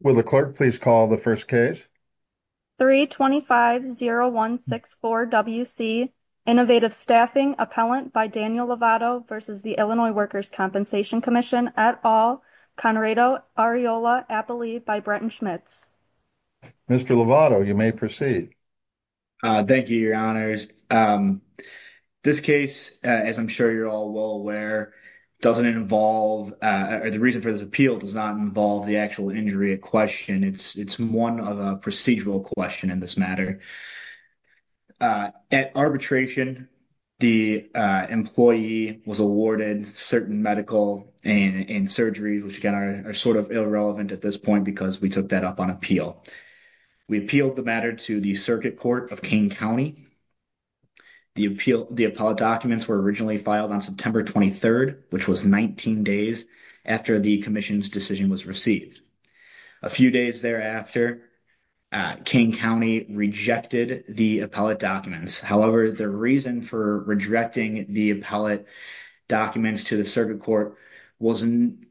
Will the clerk please call the first case? 325-0164-WC Innovative Staffing Appellant by Daniel Lovato v. Illinois Workers' Compensation Comm'n et al., Conrado, Areola, Appalee by Bretton Schmitz. Mr. Lovato, you may proceed. Thank you, Your Honors. This case, as I'm sure you're all well aware, doesn't involve, the reason for this appeal does not involve the actual injury at question. It's one of a procedural question in this matter. At arbitration, the employee was awarded certain medical and surgery, which again are sort of irrelevant at this point because we took that up on appeal. We appealed the matter to the Circuit Court of Kane County. The appellate documents were originally filed on September 23rd, which was 19 days after the commission's decision was received. A few days thereafter, Kane County rejected the appellate documents. However, the reason for rejecting the appellate documents to the Circuit Court was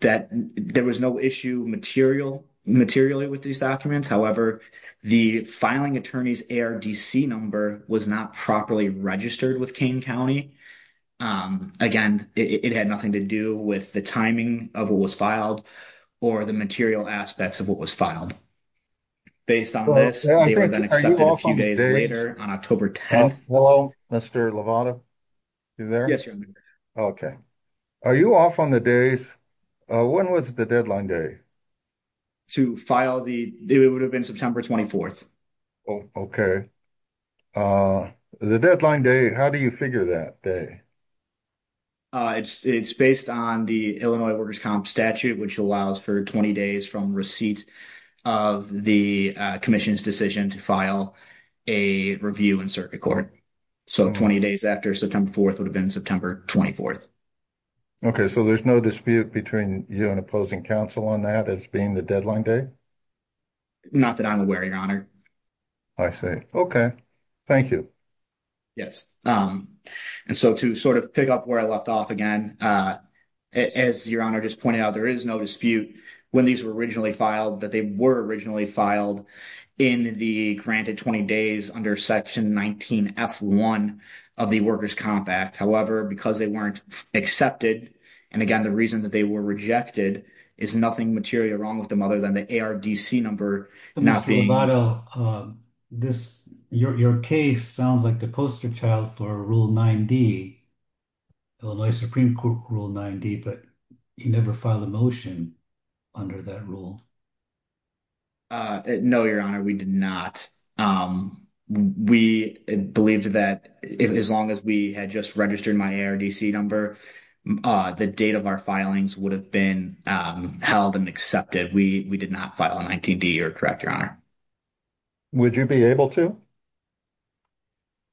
that there was no issue materially with these documents. However, the filing attorney's ARDC number was not properly registered with Kane County. Again, it had nothing to do with the timing of what was filed or the material aspects of what was filed. Based on this, they were then accepted a few days later on October 10th. Hello, Mr. Lovato? You there? Yes, Your Honor. Okay. Are you off on the days, when was the deadline day? To file the... It would have been September 24th. Okay. The deadline day, how do you figure that day? It's based on the Illinois Workers' Comp Statute, which allows for 20 days from receipt of the commission's decision to file a review in Circuit Court. So, 20 days after September 4th would have been September 24th. Okay. So, there's no dispute between you and opposing counsel on that as being the deadline day? Not that I'm aware, Your Honor. I see. Okay. Thank you. Yes. And so, to sort of pick up where I left off again, as Your Honor just pointed out, there is no dispute when these were originally filed that they were originally filed in the granted 20 days under Section 19F1 of the Workers' Comp Act. However, because they weren't accepted, and again, the reason that they were rejected is nothing material wrong with them other than the ARDC number not being... Mr. Lovato, your case sounds like the poster child for Rule 9D, Illinois Supreme Court Rule 9D, but you never filed a motion under that rule. No, Your Honor, we did not. We believed that as long as we had just registered my ARDC number, the date of our filings would have been held and accepted. We did not file a 19D, You're correct, Your Honor. Would you be able to?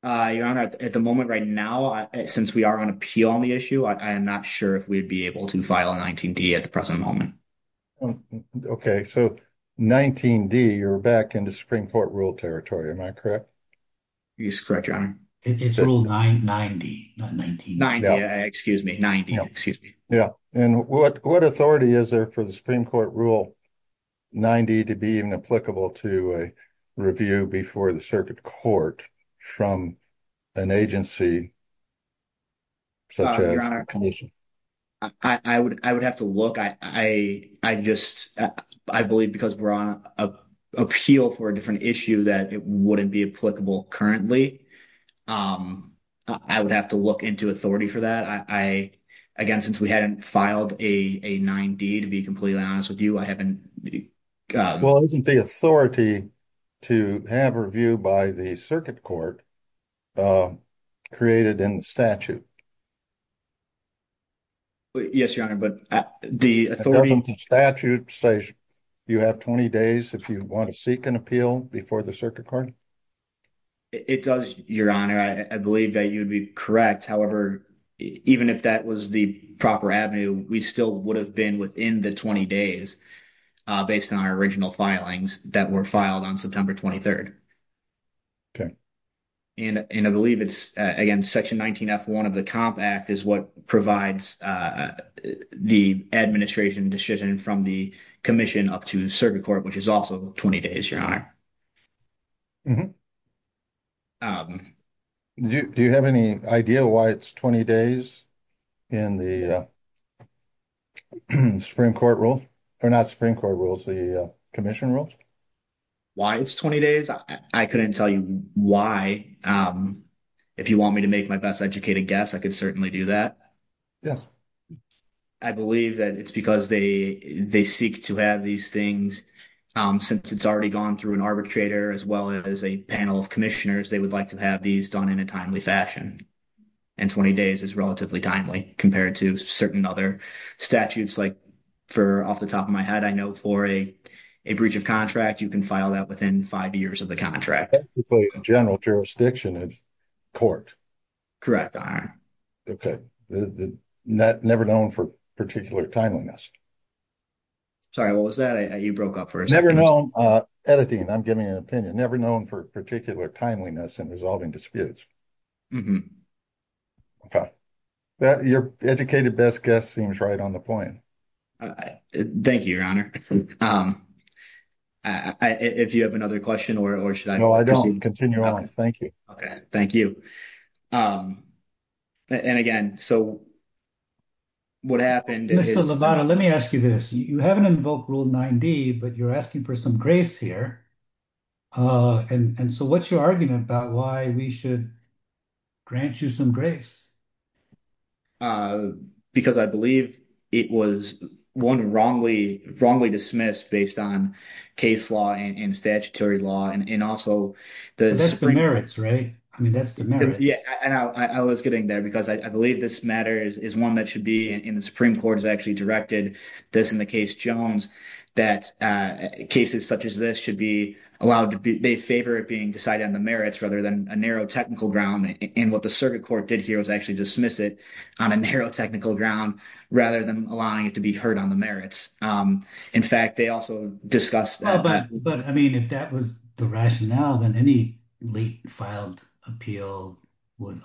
Your Honor, at the moment right now, since we are on appeal on the issue, I am not sure if we'd be able to file a 19D at the present moment. Oh, okay. So 19D, you're back into Supreme Court rule territory, am I correct? You're correct, Your Honor. It's Rule 990, not 19. 90, excuse me. 90, excuse me. Yeah, and what authority is there for the Supreme Court Rule 90 to be even applicable to a review before the circuit court from an agency such as... I would have to look. I believe because we're on appeal for a different issue that it wouldn't be applicable currently. I would have to look into authority for that. Again, since we hadn't filed a 9D, to be completely honest with you, I haven't... Well, isn't the authority to have a review by the circuit court created in the statute? Yes, Your Honor, but the authority... Doesn't the statute say you have 20 days if you want to seek an appeal before the circuit court? It does, Your Honor. I believe that you'd be correct. However, even if that was the proper avenue, we still would have been within the 20 days based on our original filings that were filed on September 23rd. Okay. And I believe it's, again, Section 19F1 of the COMP Act is what provides the administration decision from the commission up to circuit court, which is also 20 days, Your Honor. Do you have any idea why it's 20 days in the Supreme Court Rule? Or not Supreme Court Rules, the commission rules? Why it's 20 days? I couldn't tell you why. If you want me to make my best educated guess, I could certainly do that. Yeah. I believe that it's because they seek to have these things. Since it's already gone through an arbitrator as well as a panel of commissioners, they would like to have these done in a timely fashion. And 20 days is relatively timely compared to certain other statutes. Like, for off the top of my head, I know for a breach of contract, you can file that within five years of the contract. Basically, general jurisdiction is court. Correct, Your Honor. Okay. Never known for particular timeliness. Sorry, what was that? You broke up for a second. Never known, editing, I'm giving an opinion, never known for particular timeliness in resolving disputes. Mm-hmm. Okay. Your educated best guess seems right on the point. Thank you, Your Honor. If you have another question, or should I- No, I don't. Continue on. Thank you. Okay. Thank you. And again, so what happened is- Mr. Lovato, let me ask you this. You haven't invoked Rule 9D, but you're asking for some grace here. And so what's your argument about why we should grant you some grace? Because I believe it was wrongly dismissed based on case law and statutory law, and also the- But that's the merits, right? I mean, that's the merits. Yeah. And I was getting there because I believe this matter is one that should be in the Supreme Court has actually directed this in the case Jones, that cases such as this should be allowed to be, they favor it being decided on the merits rather than a narrow technical ground. And what the circuit court did here was actually dismiss it on a narrow technical ground rather than allowing it to be heard on the merits. In fact, they also discussed- Oh, but I mean, if that was the rationale, then any late filed appeal would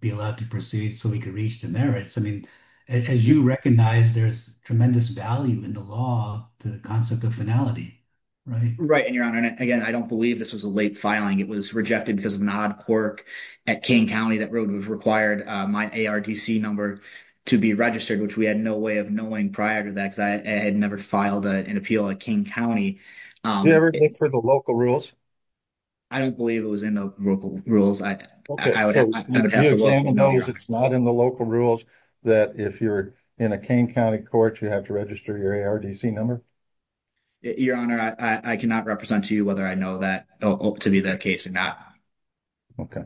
be allowed to proceed so we could reach the merits. I mean, as you recognize, there's tremendous value in the law to the concept of finality, right? Right. And Your Honor, and again, I don't believe this was a late filing. It was rejected because of an odd quirk at King County that required my ARDC number to be registered, which we had no way of knowing prior to that because I had never filed an appeal at King County. Did you ever look for the local rules? I don't believe it was in the local rules. Okay, so the examiner knows it's not in the local rules that if you're in a King County court, you have to register your ARDC number? Your Honor, I cannot represent to you whether I know that to be the case or not. Okay.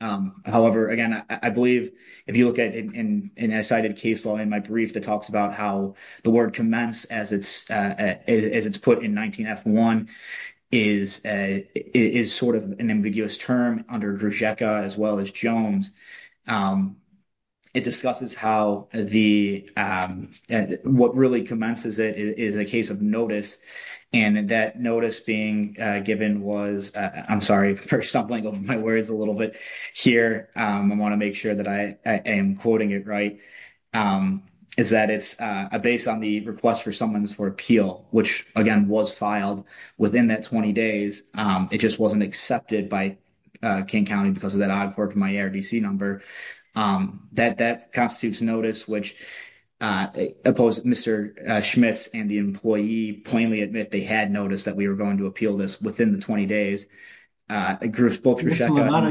However, again, I believe if you look at an excited case law in my brief that talks about how the word commence as it's put in 19F1 is sort of an ambiguous term under Druzecka as well as Jones. It discusses how what really commences it is a case of notice. And that notice being given was, I'm sorry for stumbling over my words a little bit here. I want to make sure that I am quoting it right. Is that it's a base on the request for someone's for appeal, which again was filed within that 20 days. It just wasn't accepted by King County because of that odd court for my ARDC number. That constitutes notice which opposed Mr. Schmitz and the employee plainly admit they had noticed that we were going to appeal this within the 20 days. Bruce, both of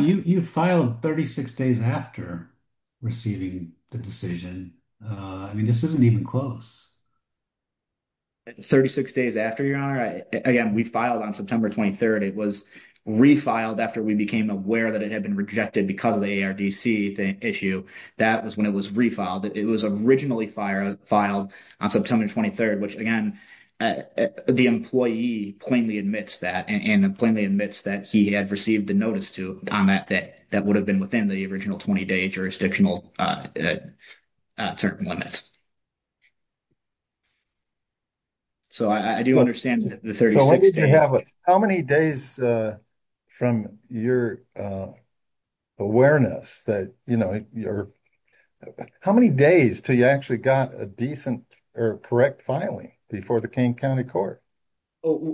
you. You filed 36 days after receiving the decision. I mean, this isn't even close. 36 days after, Your Honor. Again, we filed on September 23rd. It was refiled after we became aware that it had been rejected because of the ARDC issue. That was when it was refiled. It was originally filed on September 23rd, which again, the employee plainly admits that and he had received the notice to comment that that would have been within the original 20-day jurisdictional term limits. So, I do understand that. How many days from your awareness that, you know, how many days till you actually got a decent or correct filing before the King County Court?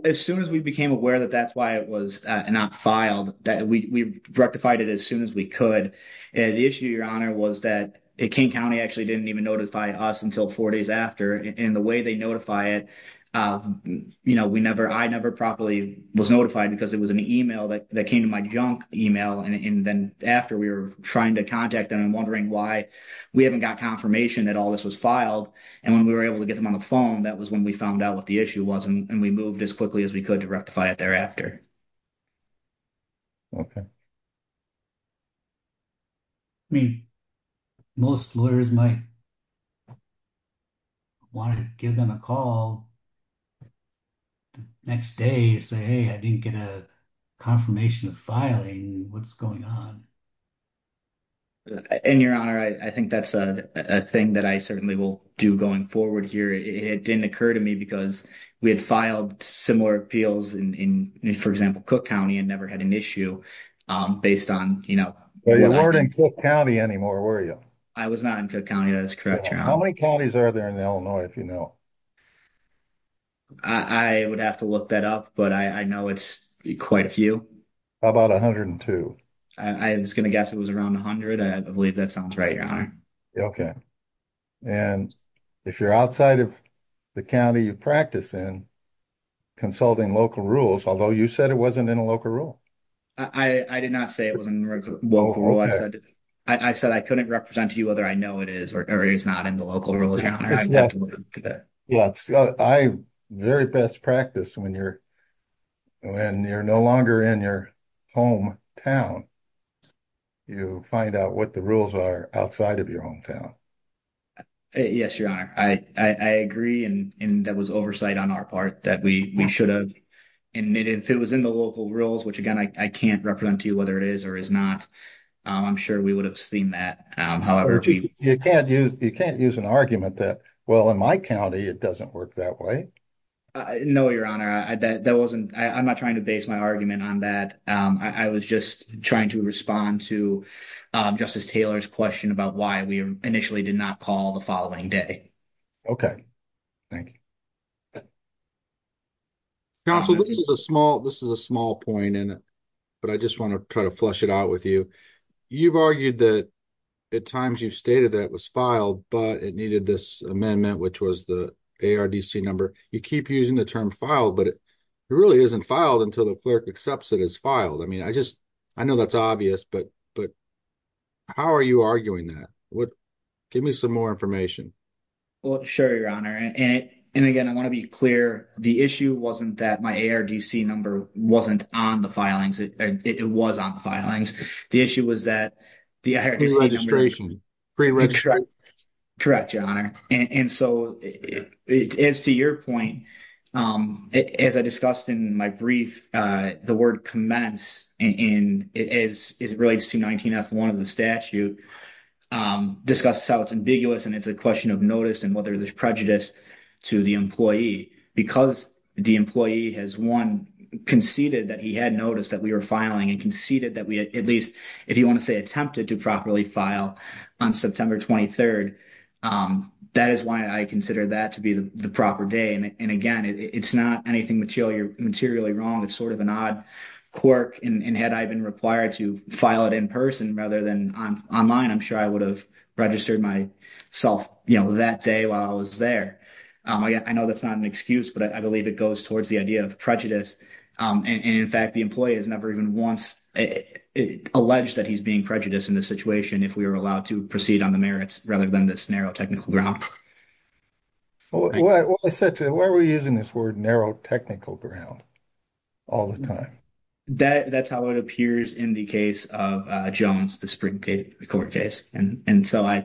As soon as we became aware that that's why it was not filed, we rectified it as soon as we could. The issue, Your Honor, was that King County actually didn't even notify us until four days after. And the way they notify it, you know, I never properly was notified because it was an email that came to my junk email. And then after we were trying to contact them and wondering why we haven't got confirmation that all this was filed. And when we were able to get them on phone, that was when we found out what the issue was and we moved as quickly as we could to rectify it thereafter. Okay. I mean, most lawyers might want to give them a call the next day and say, hey, I didn't get a confirmation of filing. What's going on? In Your Honor, I think that's a thing that I certainly will do going forward here. It didn't occur to me because we had filed similar appeals in, for example, Cook County and never had an issue based on, you know. But you weren't in Cook County anymore, were you? I was not in Cook County. That is correct, Your Honor. How many counties are there in Illinois, if you know? I would have to look that up, but I know it's quite a few. How about 102? I was going to guess it was around 100. I believe that sounds right, Your Honor. Okay. And if you're outside of the county you practice in, consulting local rules, although you said it wasn't in a local rule. I did not say it was a local rule. I said I couldn't represent to you whether I know it is or it is not in the local rules, Your Honor. Well, I very best practice when you're no longer in your home town, you find out what the rules are outside of your home town. Yes, Your Honor. I agree, and that was oversight on our part that we should have. And if it was in the local rules, which again I can't represent to you whether it is or is not, I'm sure we would have seen that. However, you can't use an argument that, well, in my county it doesn't work that way. No, Your Honor. That wasn't, I'm trying to base my argument on that. I was just trying to respond to Justice Taylor's question about why we initially did not call the following day. Okay. Thank you. Counsel, this is a small point, but I just want to try to flesh it out with you. You've argued that at times you've stated that it was filed, but it needed this amendment, which was the ARDC number. You keep using the term filed, but it really isn't filed until the clerk accepts it as filed. I mean, I just, I know that's obvious, but how are you arguing that? Give me some more information. Well, sure, Your Honor. And again, I want to be clear. The issue wasn't that my ARDC number wasn't on the filings. It was on the filings. The issue was that the ARDC number was on the filings. Pre-registration. Correct, Your Honor. And so, as to your point, as I discussed in my brief, the word commence, as it relates to 19F1 of the statute, discusses how it's ambiguous and it's a question of notice and whether there's prejudice to the employee. Because the employee has, one, conceded that he had noticed that we were filing and conceded that we at least, if you want to say attempted to properly file on September 23rd. That is why I consider that to be the proper day. And again, it's not anything materially wrong. It's sort of an odd quirk. And had I been required to file it in person rather than online, I'm sure I would have registered myself that day while I was there. I know that's not an excuse, but I believe it goes towards the idea of prejudice. And in fact, the employee has never even once alleged that he's being prejudiced in this situation if we were allowed to proceed on the merits rather than this narrow technical ground. Well, I said to him, why are we using this word narrow technical ground all the time? That's how it appears in the case of Jones, the Supreme Court case. And so, I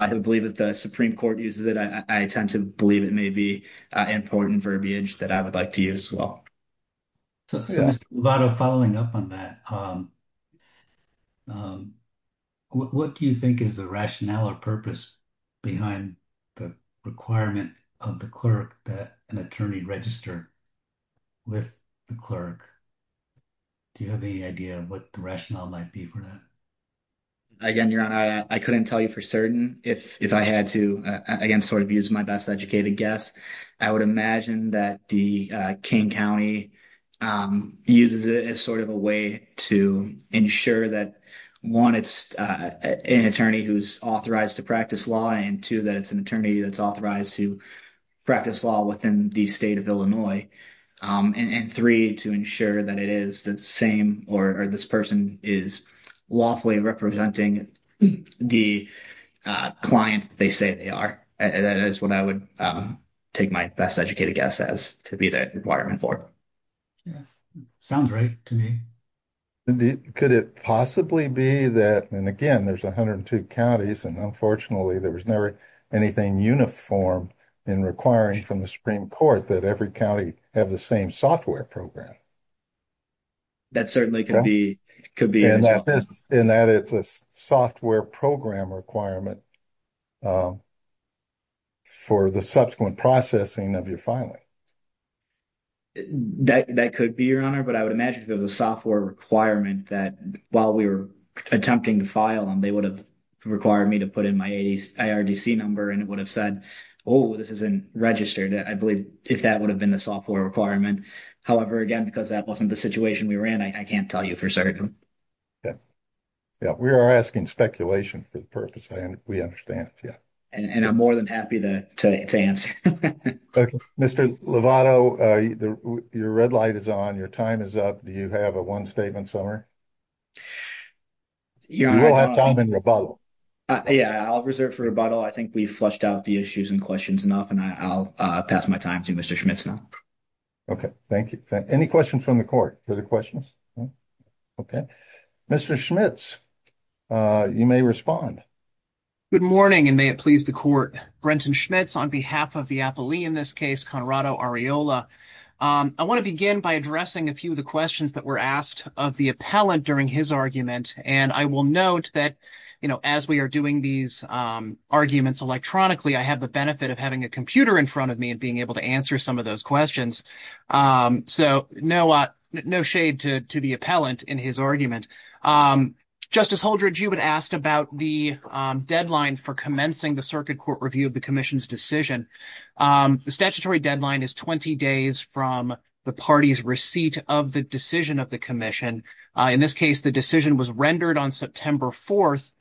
believe if the Supreme Court uses it, I tend to believe it may be important verbiage that I would like to use as well. So a lot of following up on that. What do you think is the rationale or purpose behind the requirement of the clerk that an attorney register with the clerk? Do you have any idea of what the rationale might be for that? Again, Your Honor, I couldn't tell you for certain if I had to, again, sort of use my best educated guess. I would imagine that the King County uses it as sort of a way to ensure that, one, it's an attorney who's authorized to practice law, and two, that it's an attorney that's authorized to practice law within the state of Illinois, and three, to ensure that it is the same or this person is lawfully representing the client they say they are. That is what I would take my best educated guess as to be that requirement for. Sounds right to me. Could it possibly be that, and again, there's 102 counties, and unfortunately, there was never anything uniform in requiring from the Supreme Court that every county have the same software program? That certainly could be. And that it's a software program requirement for the subsequent processing of your filing. That could be, Your Honor, but I would imagine if it was a software requirement that while we were attempting to file them, they would have required me to put in my IRDC number, and it would have said, oh, this isn't registered. I believe if that would have been the software requirement. However, again, because that wasn't the situation we were in, I can't tell you for certain. Yeah, we are asking speculation for the purpose, and we understand, yeah. And I'm more than happy to answer. Mr. Lovato, your red light is on, your time is up. Do you have a one statement, Summer? You will have time in rebuttal. Yeah, I'll reserve for rebuttal. I think we've flushed out the issues and questions enough, I'll pass my time to Mr. Schmitz now. Okay, thank you. Any questions from the court? Other questions? Okay. Mr. Schmitz, you may respond. Good morning, and may it please the court. Brenton Schmitz on behalf of the appellee in this case, Conrado Arriola. I want to begin by addressing a few of the questions that were asked of the appellant during his argument. And I will note that, you know, as we are doing these arguments electronically, I have the benefit of having a computer in front of me and being able to answer some of those questions. So no shade to the appellant in his argument. Justice Holdridge, you had asked about the deadline for commencing the circuit court review of the commission's decision. The statutory deadline is 20 days from the party's receipt of the decision of the commission. In this case, the decision was rendered on September 4th.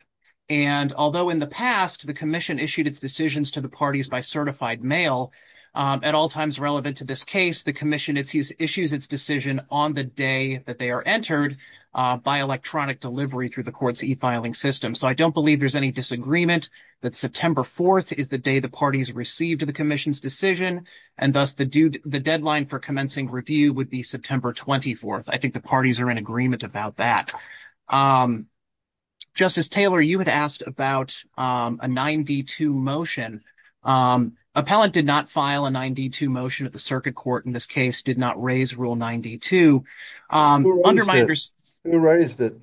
And although in the past, the commission issued its decisions to the parties by certified mail, at all times relevant to this case, the commission issues its decision on the day that they are entered by electronic delivery through the court's e-filing system. So I don't believe there's any disagreement that September 4th is the day the parties received the commission's decision, and thus the deadline for commencing review would be September 24th. I think the parties are in agreement about that. Justice Taylor, you had asked about a 9D2 motion Appellant did not file a 9D2 motion at the circuit court in this case, did not raise Rule 92. Who raised it?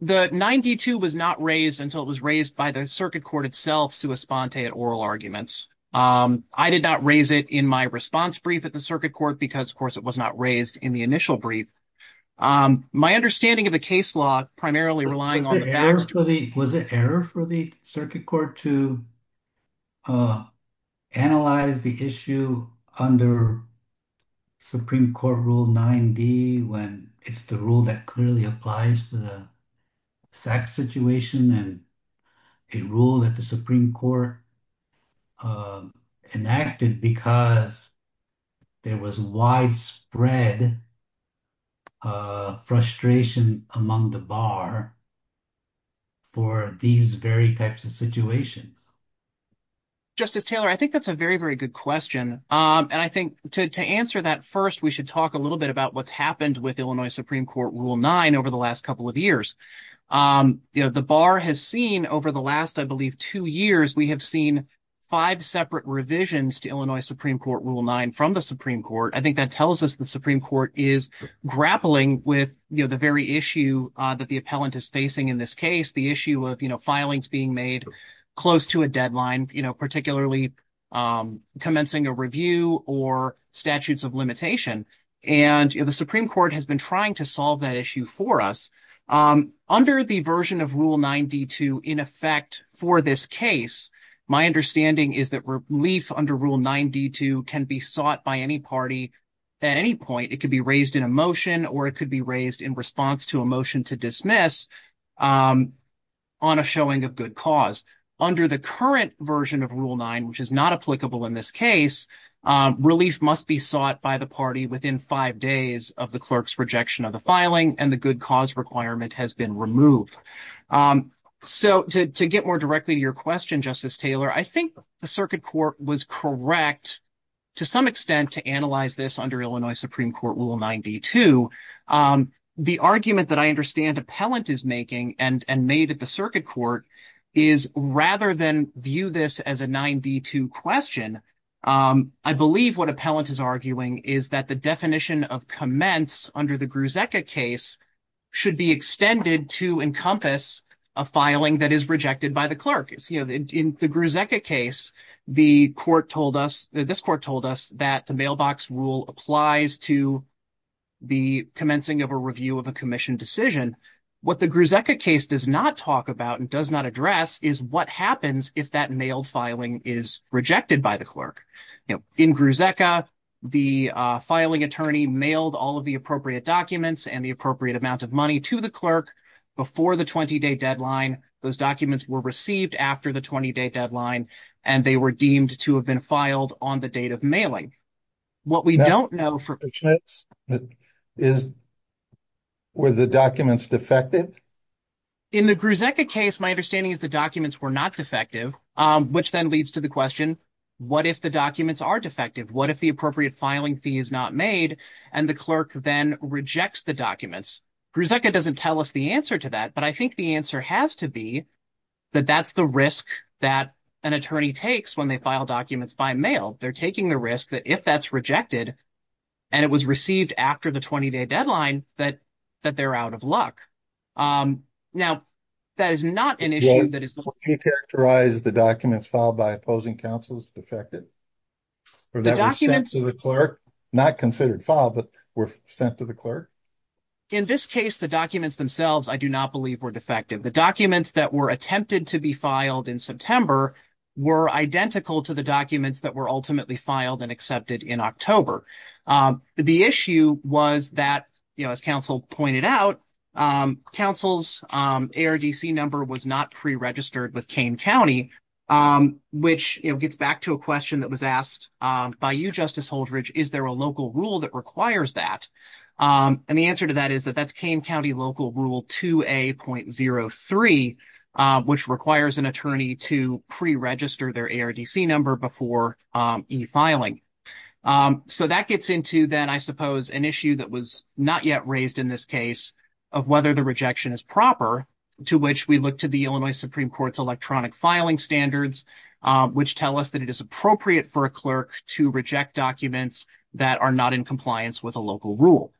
The 9D2 was not raised until it was raised by the circuit court itself sua sponte at oral arguments. I did not raise it in my response brief at the circuit court because of course it was not raised in the initial brief. My understanding of the case law, primarily relying on the facts. Was it error for the circuit court to analyze the issue under Supreme Court Rule 9D when it's the rule that clearly applies to the fact situation and a rule that the Supreme Court enacted because there was widespread frustration among the bar for these very types of situations? Justice Taylor, I think that's a very, very good question. And I think to answer that first, we should talk a little bit about what's happened with Illinois Supreme Court Rule 9 over the last couple of years. You know, the bar has seen over the last, I believe, two years, we have seen five separate revisions to Illinois Supreme Court Rule 9 from the Supreme Court. I think that tells us the Supreme Court is grappling with the very issue that the appellant is facing in this case, the issue of filings being made close to a deadline, particularly commencing a review or statutes of limitation. And the Supreme Court has been trying to solve that issue for us. Under the version of Rule 9D2 in effect for this case, my understanding is that relief under Rule 9D2 can be sought by any party at any point. It could be raised in a motion or it could be raised in response to a motion to dismiss on a showing of good cause. Under the current version of Rule 9, which is not applicable in this case, relief must be sought by the party within five days of the clerk's rejection of the filing and the good cause requirement has been removed. So to get more directly to your question, Justice Taylor, I think the circuit court was correct to some extent to analyze this under Illinois Supreme Court Rule 9D2. The argument that I understand appellant is making and made at the circuit court is rather than view this as a 9D2 question, I believe what appellant is arguing is that the definition of commence under the Grusecca case should be extended to encompass a filing that is rejected by the clerk. As you know, in the Grusecca case, the court told us, this court told us that the mailbox rule applies to the commencing of a review of a commission decision. What the Grusecca case does not talk about and does not address is what happens if that mailed filing is rejected by the clerk. In Grusecca, the filing attorney mailed all of the appropriate documents and the appropriate amount of money to the clerk before the 20-day deadline. Those documents were received after the 20-day deadline and they were deemed to have been filed on the date of mailing. What we don't know for sure is, were the documents defective? In the Grusecca case, my understanding is the documents were not defective, which then leads to the question, what if the documents are defective? What if the appropriate filing fee is not made and the clerk then rejects the documents? Grusecca doesn't tell us the answer to that, but I think the answer has to be that that's the risk that an attorney takes when they file documents by mail. They're taking the risk that if that's rejected and it was received after the 20-day deadline, that they're out of luck. Now, that is not an issue that is- Do you characterize the documents filed by opposing counsels defective? Or that were sent to the clerk? Not considered filed, but were sent to the clerk? In this case, the documents themselves, I do not believe were defective. The documents that were attempted to be filed in September were identical to the documents that were ultimately filed and accepted in October. The issue was that, you know, as counsel pointed out, counsel's ARDC number was not pre-registered with Kane County, which, you know, gets back to a question that was asked by you, Justice Holdredge, is there a local rule that requires that? And the answer to that is that that's Kane County Local Rule 2A.03, which requires an attorney to pre-register their ARDC number before e-filing. So, that gets into then, I suppose, an issue that was not yet raised in this case of whether the rejection is proper, to which we look to the Illinois Supreme Court's electronic filing standards, which tell us that it is appropriate for a clerk to reject documents that are not in compliance with a local rule.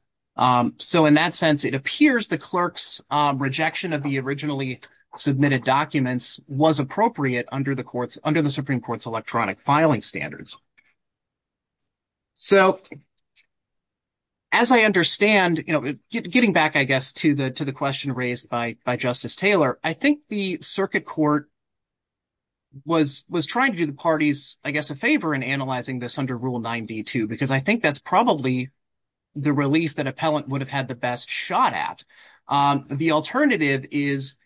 So, in that sense, it appears the clerk's rejection of the originally submitted documents was appropriate under the Supreme Court's electronic filing standards. So, as I understand, you know, getting back, I guess, to the question raised by Justice Taylor, I think the circuit court was trying to do the parties, I guess, a favor in analyzing this under Rule 9D2, because I think that's probably the relief that appellant would have had the best shot at. The alternative is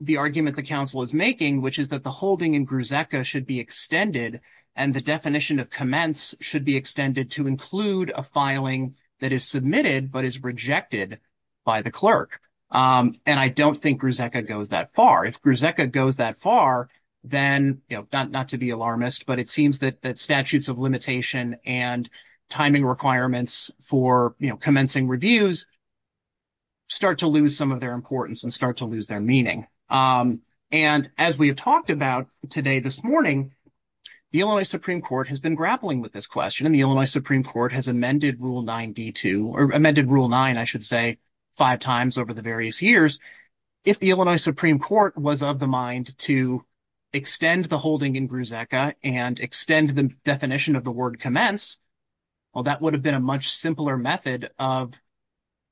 the argument the counsel is making, which is that the holding in GRUZEKA should be extended and the definition of commence should be extended to include a filing that is submitted but is rejected by the clerk. And I don't think GRUZEKA goes that far. If GRUZEKA goes that far, then, you know, not to be alarmist, but it seems that statutes of limitation and timing requirements for, you know, commencing reviews start to lose some of their importance and start to lose their meaning. And as we have talked about today, this morning, the Illinois Supreme Court has been grappling with this question, and the Illinois Supreme Court has amended Rule 9D2 or amended Rule 9, I should say, five times over the various years. If the Illinois Supreme Court was of the mind to extend the holding in GRUZEKA and extend the definition of the word commence, well, that would have been a much simpler method of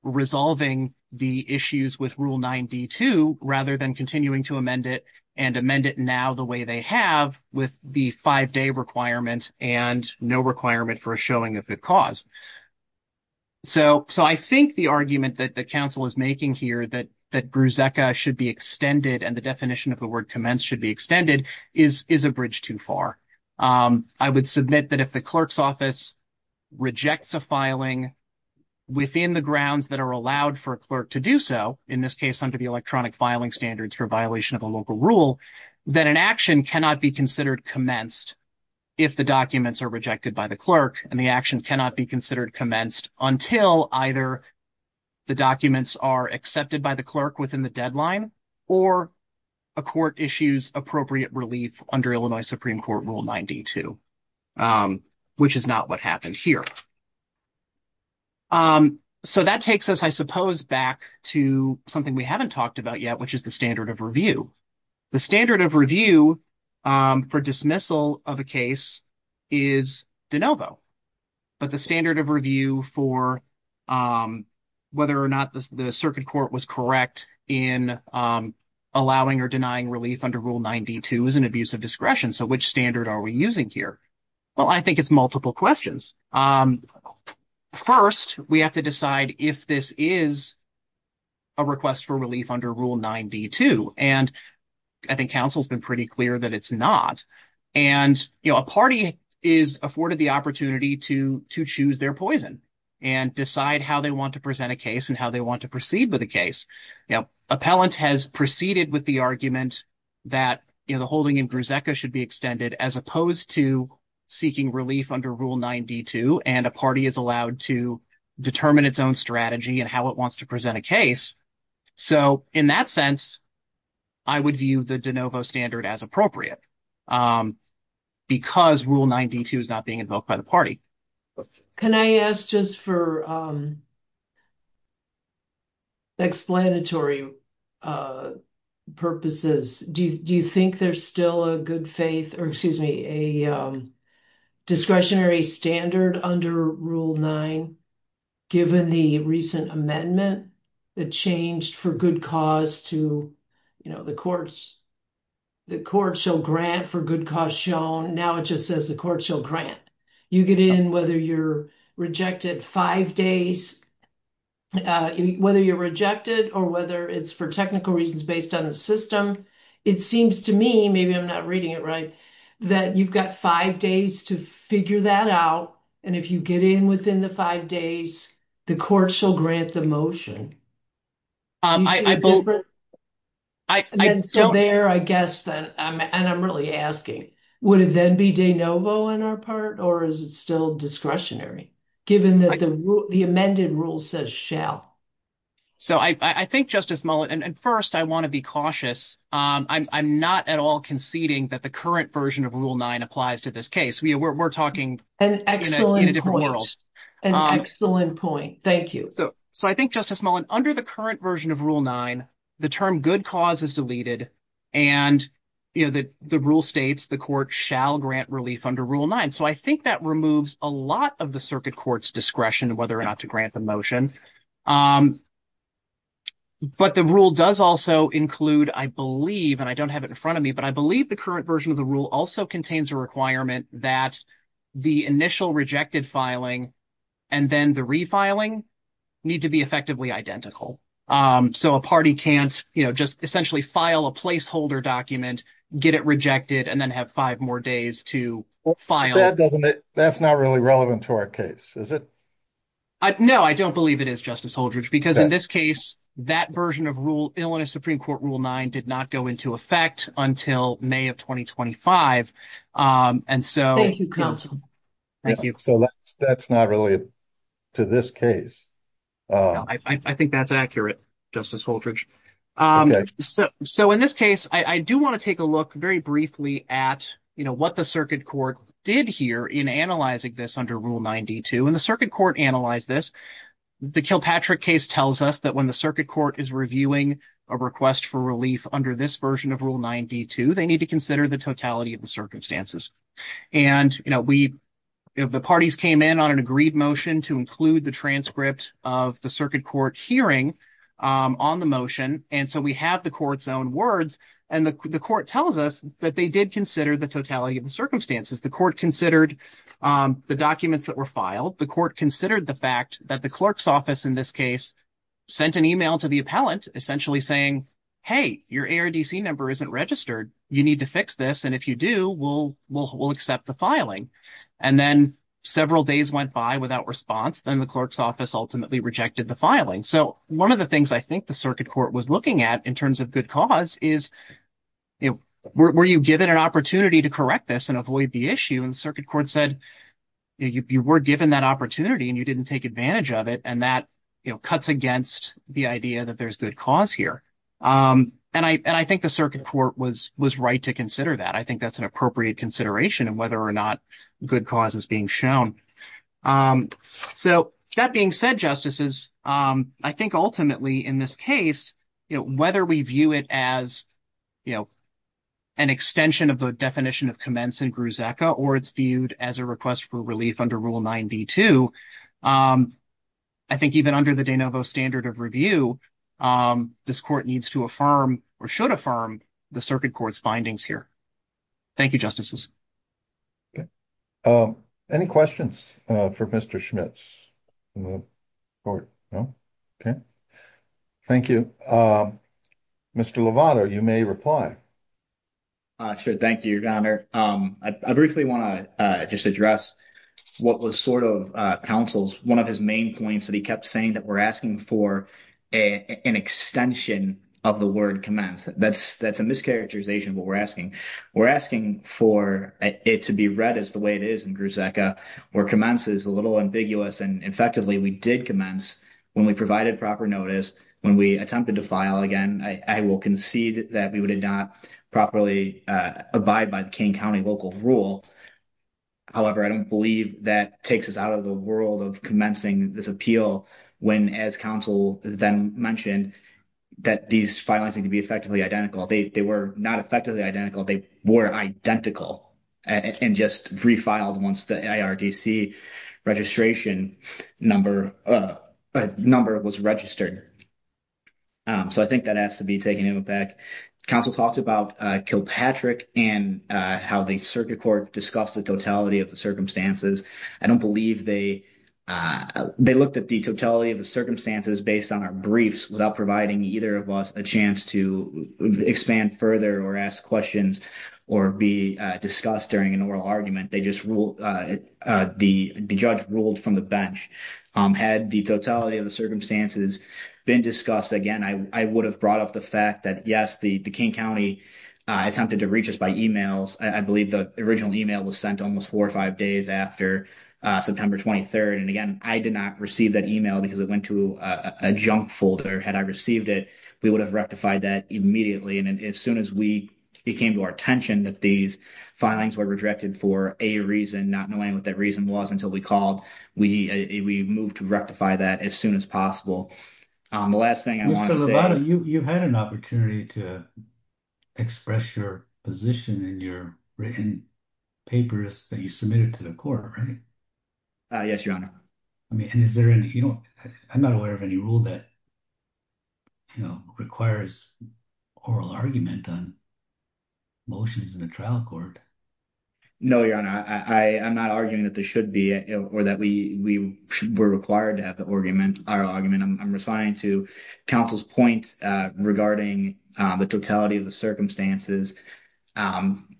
resolving the issues with Rule 9D2 rather than continuing to amend it and amend it now the way they have with the five-day requirement and no requirement for a showing of the cause. So I think the argument that the counsel is making here that that GRUZEKA should be extended and the definition of the word commence should be extended is a bridge too far. I would submit that if the clerk's office rejects a filing within the grounds that are allowed for a clerk to do so, in this case under the electronic filing standards for violation of a local rule, that an action cannot be considered commenced if the documents are rejected by the clerk, and the action cannot be considered commenced until either the documents are accepted by the clerk within the deadline or a court issues appropriate relief under Illinois Supreme Court Rule 9D2, which is not what happened here. So that takes us, I suppose, back to something we haven't talked about yet, which is the standard of review. The standard of review for dismissal of a case is de novo, but the standard of review for whether or not the circuit court was correct in allowing or denying relief under Rule 9D2 is an abuse of discretion. So which standard are we using here? Well, I think it's multiple questions. First, we have to decide if this is a request for relief under Rule 9D2, and I think counsel's been pretty clear that it's not. And, you know, a party is afforded the opportunity to choose their poison and decide how they want to present a case and how they want to proceed with the case. You know, appellant has proceeded with the argument that, you know, the holding in Griseca should be extended as opposed to seeking relief under Rule 9D2, and a party is allowed to determine its own strategy and how it wants to present a case. So in that sense, I would view the de novo standard as appropriate, because Rule 9D2 is not being invoked by the party. Can I ask just for explanatory purposes, do you think there's still a good faith, or excuse me, a discretionary standard under Rule 9, given the recent amendment that changed for good cause to, you know, the courts, the court shall grant for good cause shown. Now it just says the court shall grant. You get in, whether you're rejected five days, whether you're rejected or whether it's for technical reasons based on the system, it seems to me, maybe I'm not reading it right, that you've got five days to figure that out, and if you get in within the five days, the court shall grant the motion. So there, I guess, and I'm really asking, would it then be de novo on our part, or is it still discretionary, given that the amended rule says shall? So I think, Justice Mullen, and first I want to be cautious. I'm not at all conceding that the current version of Rule 9 applies to this case. We're talking in a different world. An excellent point. Thank you. So I think, Justice Mullen, under the current version of Rule 9, the term good cause is deleted and, you know, the rule states the court shall grant relief under Rule 9. So I think that removes a lot of the circuit court's discretion whether or not to grant the motion. But the rule does also include, I believe, and I don't have it in front of me, but I believe the current version of the rule also contains a requirement that the initial rejected filing and then the refiling need to be effectively identical. So a party can't, you know, just essentially file a placeholder document, get it rejected, and then have five more days to file. That's not really relevant to our case, is it? No, I don't believe it is, Justice Holdridge, because in this case, that version of Illinois Supreme Court Rule 9 did not go into effect until May of 2025. Thank you, counsel. Thank you. So that's not really to this case. I think that's accurate, Justice Holdridge. So in this case, I do want to take a look very briefly at, you know, what the circuit court did here in analyzing this under Rule 9.2. And the circuit court analyzed this. The Kilpatrick case tells us that when the circuit court has a motion for relief under this version of Rule 9.2, they need to consider the totality of the circumstances. And, you know, we, the parties came in on an agreed motion to include the transcript of the circuit court hearing on the motion. And so we have the court's own words. And the court tells us that they did consider the totality of the circumstances. The court considered the documents that were filed. The court considered the fact that the clerk's office in this case sent an email to the appellant essentially saying, hey, your ARDC number isn't registered. You need to fix this. And if you do, we'll accept the filing. And then several days went by without response. Then the clerk's office ultimately rejected the filing. So one of the things I think the circuit court was looking at in terms of good cause is, you know, were you given an opportunity to correct this and avoid the issue? And the circuit court said you were given that opportunity and you didn't take advantage of it. And that, you know, cuts against the idea that there's good cause here. And I think the circuit court was right to consider that. I think that's an appropriate consideration of whether or not good cause is being shown. So that being said, Justices, I think ultimately in this case, you know, whether we view it as, you know, an extension of the definition of commence and grusecca, or it's viewed as a request for relief under rule 92, I think even under the de novo standard of review, this court needs to affirm or should affirm the circuit court's findings here. Thank you, Justices. Any questions for Mr. Schmitz? No? Okay. Thank you. Mr. Lovato, you may reply. Sure. Thank you, Your Honor. I briefly want to just address what was sort of counsel's, one of his main points that he kept saying, that we're asking for an extension of the word commence. That's a mischaracterization of what we're asking. We're asking for it to be read as the way it is in grusecca, where commence is a little ambiguous. And effectively, we did commence when we provided proper notice, when we attempted to file again. I will concede that we would have properly abided by the King County local rule. However, I don't believe that takes us out of the world of commencing this appeal when, as counsel then mentioned, that these filings need to be effectively identical. They were not effectively identical. They were identical and just refiled once the ARDC registration number was registered. So, I think that has to be taken into account. Counsel talked about Kilpatrick and how the circuit court discussed the totality of the circumstances. I don't believe they looked at the totality of the circumstances based on our briefs without providing either of us a chance to expand further or ask questions or be discussed during an oral argument. They just ruled, the judge ruled from the bench. Had the totality of the circumstances been discussed again, I would have brought up the fact that, yes, the King County attempted to reach us by emails. I believe the original email was sent almost four or five days after September 23rd. And again, I did not receive that email because it went to a junk folder. Had I received it, we would have rectified that immediately. And as soon as it came to our attention that these filings were rejected for a reason, not knowing what that reason was until we called, we moved to rectify that as soon as possible. The last thing I want to say... You had an opportunity to express your position in your written papers that you submitted to the court, right? Yes, your honor. I mean, and is there any, you know, I'm not aware of any rule that, you know, requires oral argument on motions in the court. I'm not arguing that there should be or that we were required to have the oral argument. I'm responding to counsel's point regarding the totality of the circumstances.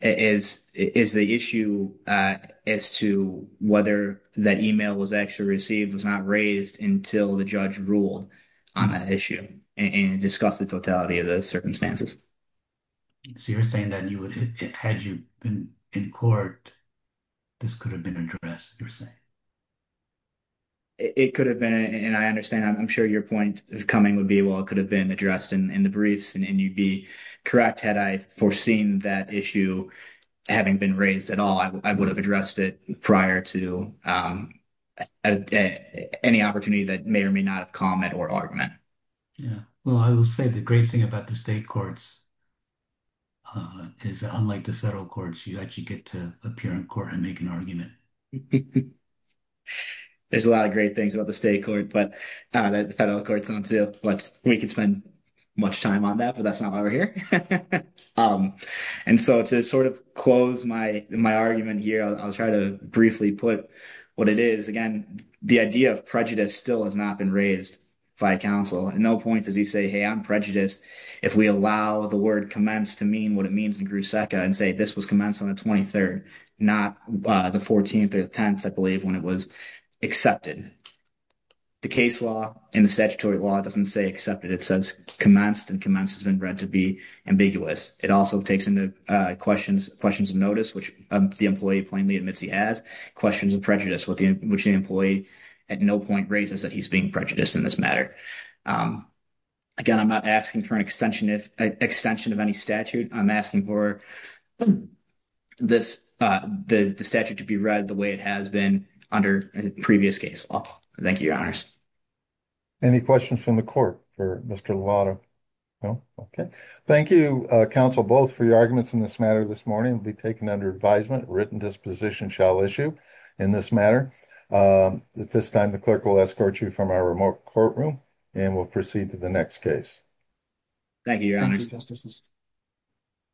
Is the issue as to whether that email was actually received was not raised until the judge ruled on that issue and discussed the totality of the circumstances. So you're saying that you would, had you been in court, this could have been addressed, you're saying? It could have been, and I understand, I'm sure your point of coming would be, well, it could have been addressed in the briefs and you'd be correct had I foreseen that issue having been raised at all. I would have addressed it prior to any opportunity that may or may not have come at oral argument. Yeah, well, I will say the great thing about the state courts is unlike the federal courts, you actually get to appear in court and make an argument. There's a lot of great things about the state court, but the federal courts don't, too, but we could spend much time on that, but that's not why we're here. And so to sort of close my argument here, I'll try to briefly put what it is. Again, the idea of prejudice still has not been raised by counsel. At no point does he say, hey, I'm prejudiced, if we allow the word commenced to mean what it means in Gruszeka and say this was commenced on the 23rd, not the 14th or the 10th, I believe, when it was accepted. The case law and the statutory law doesn't say accepted, it says commenced and commenced has been read to be ambiguous. It also takes into questions of notice, which the employee plainly admits he has, questions of prejudice, which the employee at no point raises that he's being prejudiced in this matter. Again, I'm not asking for an extension of any statute. I'm asking for the statute to be read the way it has been under a previous case law. Thank you, your honors. Any questions from the court for Mr. Lovato? No? Okay. Thank you, counsel, both, for your arguments in this matter this morning. It will be taken under advisement. A written disposition shall issue in this matter. At this time, the clerk will escort you from our remote courtroom and we'll proceed to the next case. Thank you, your honors.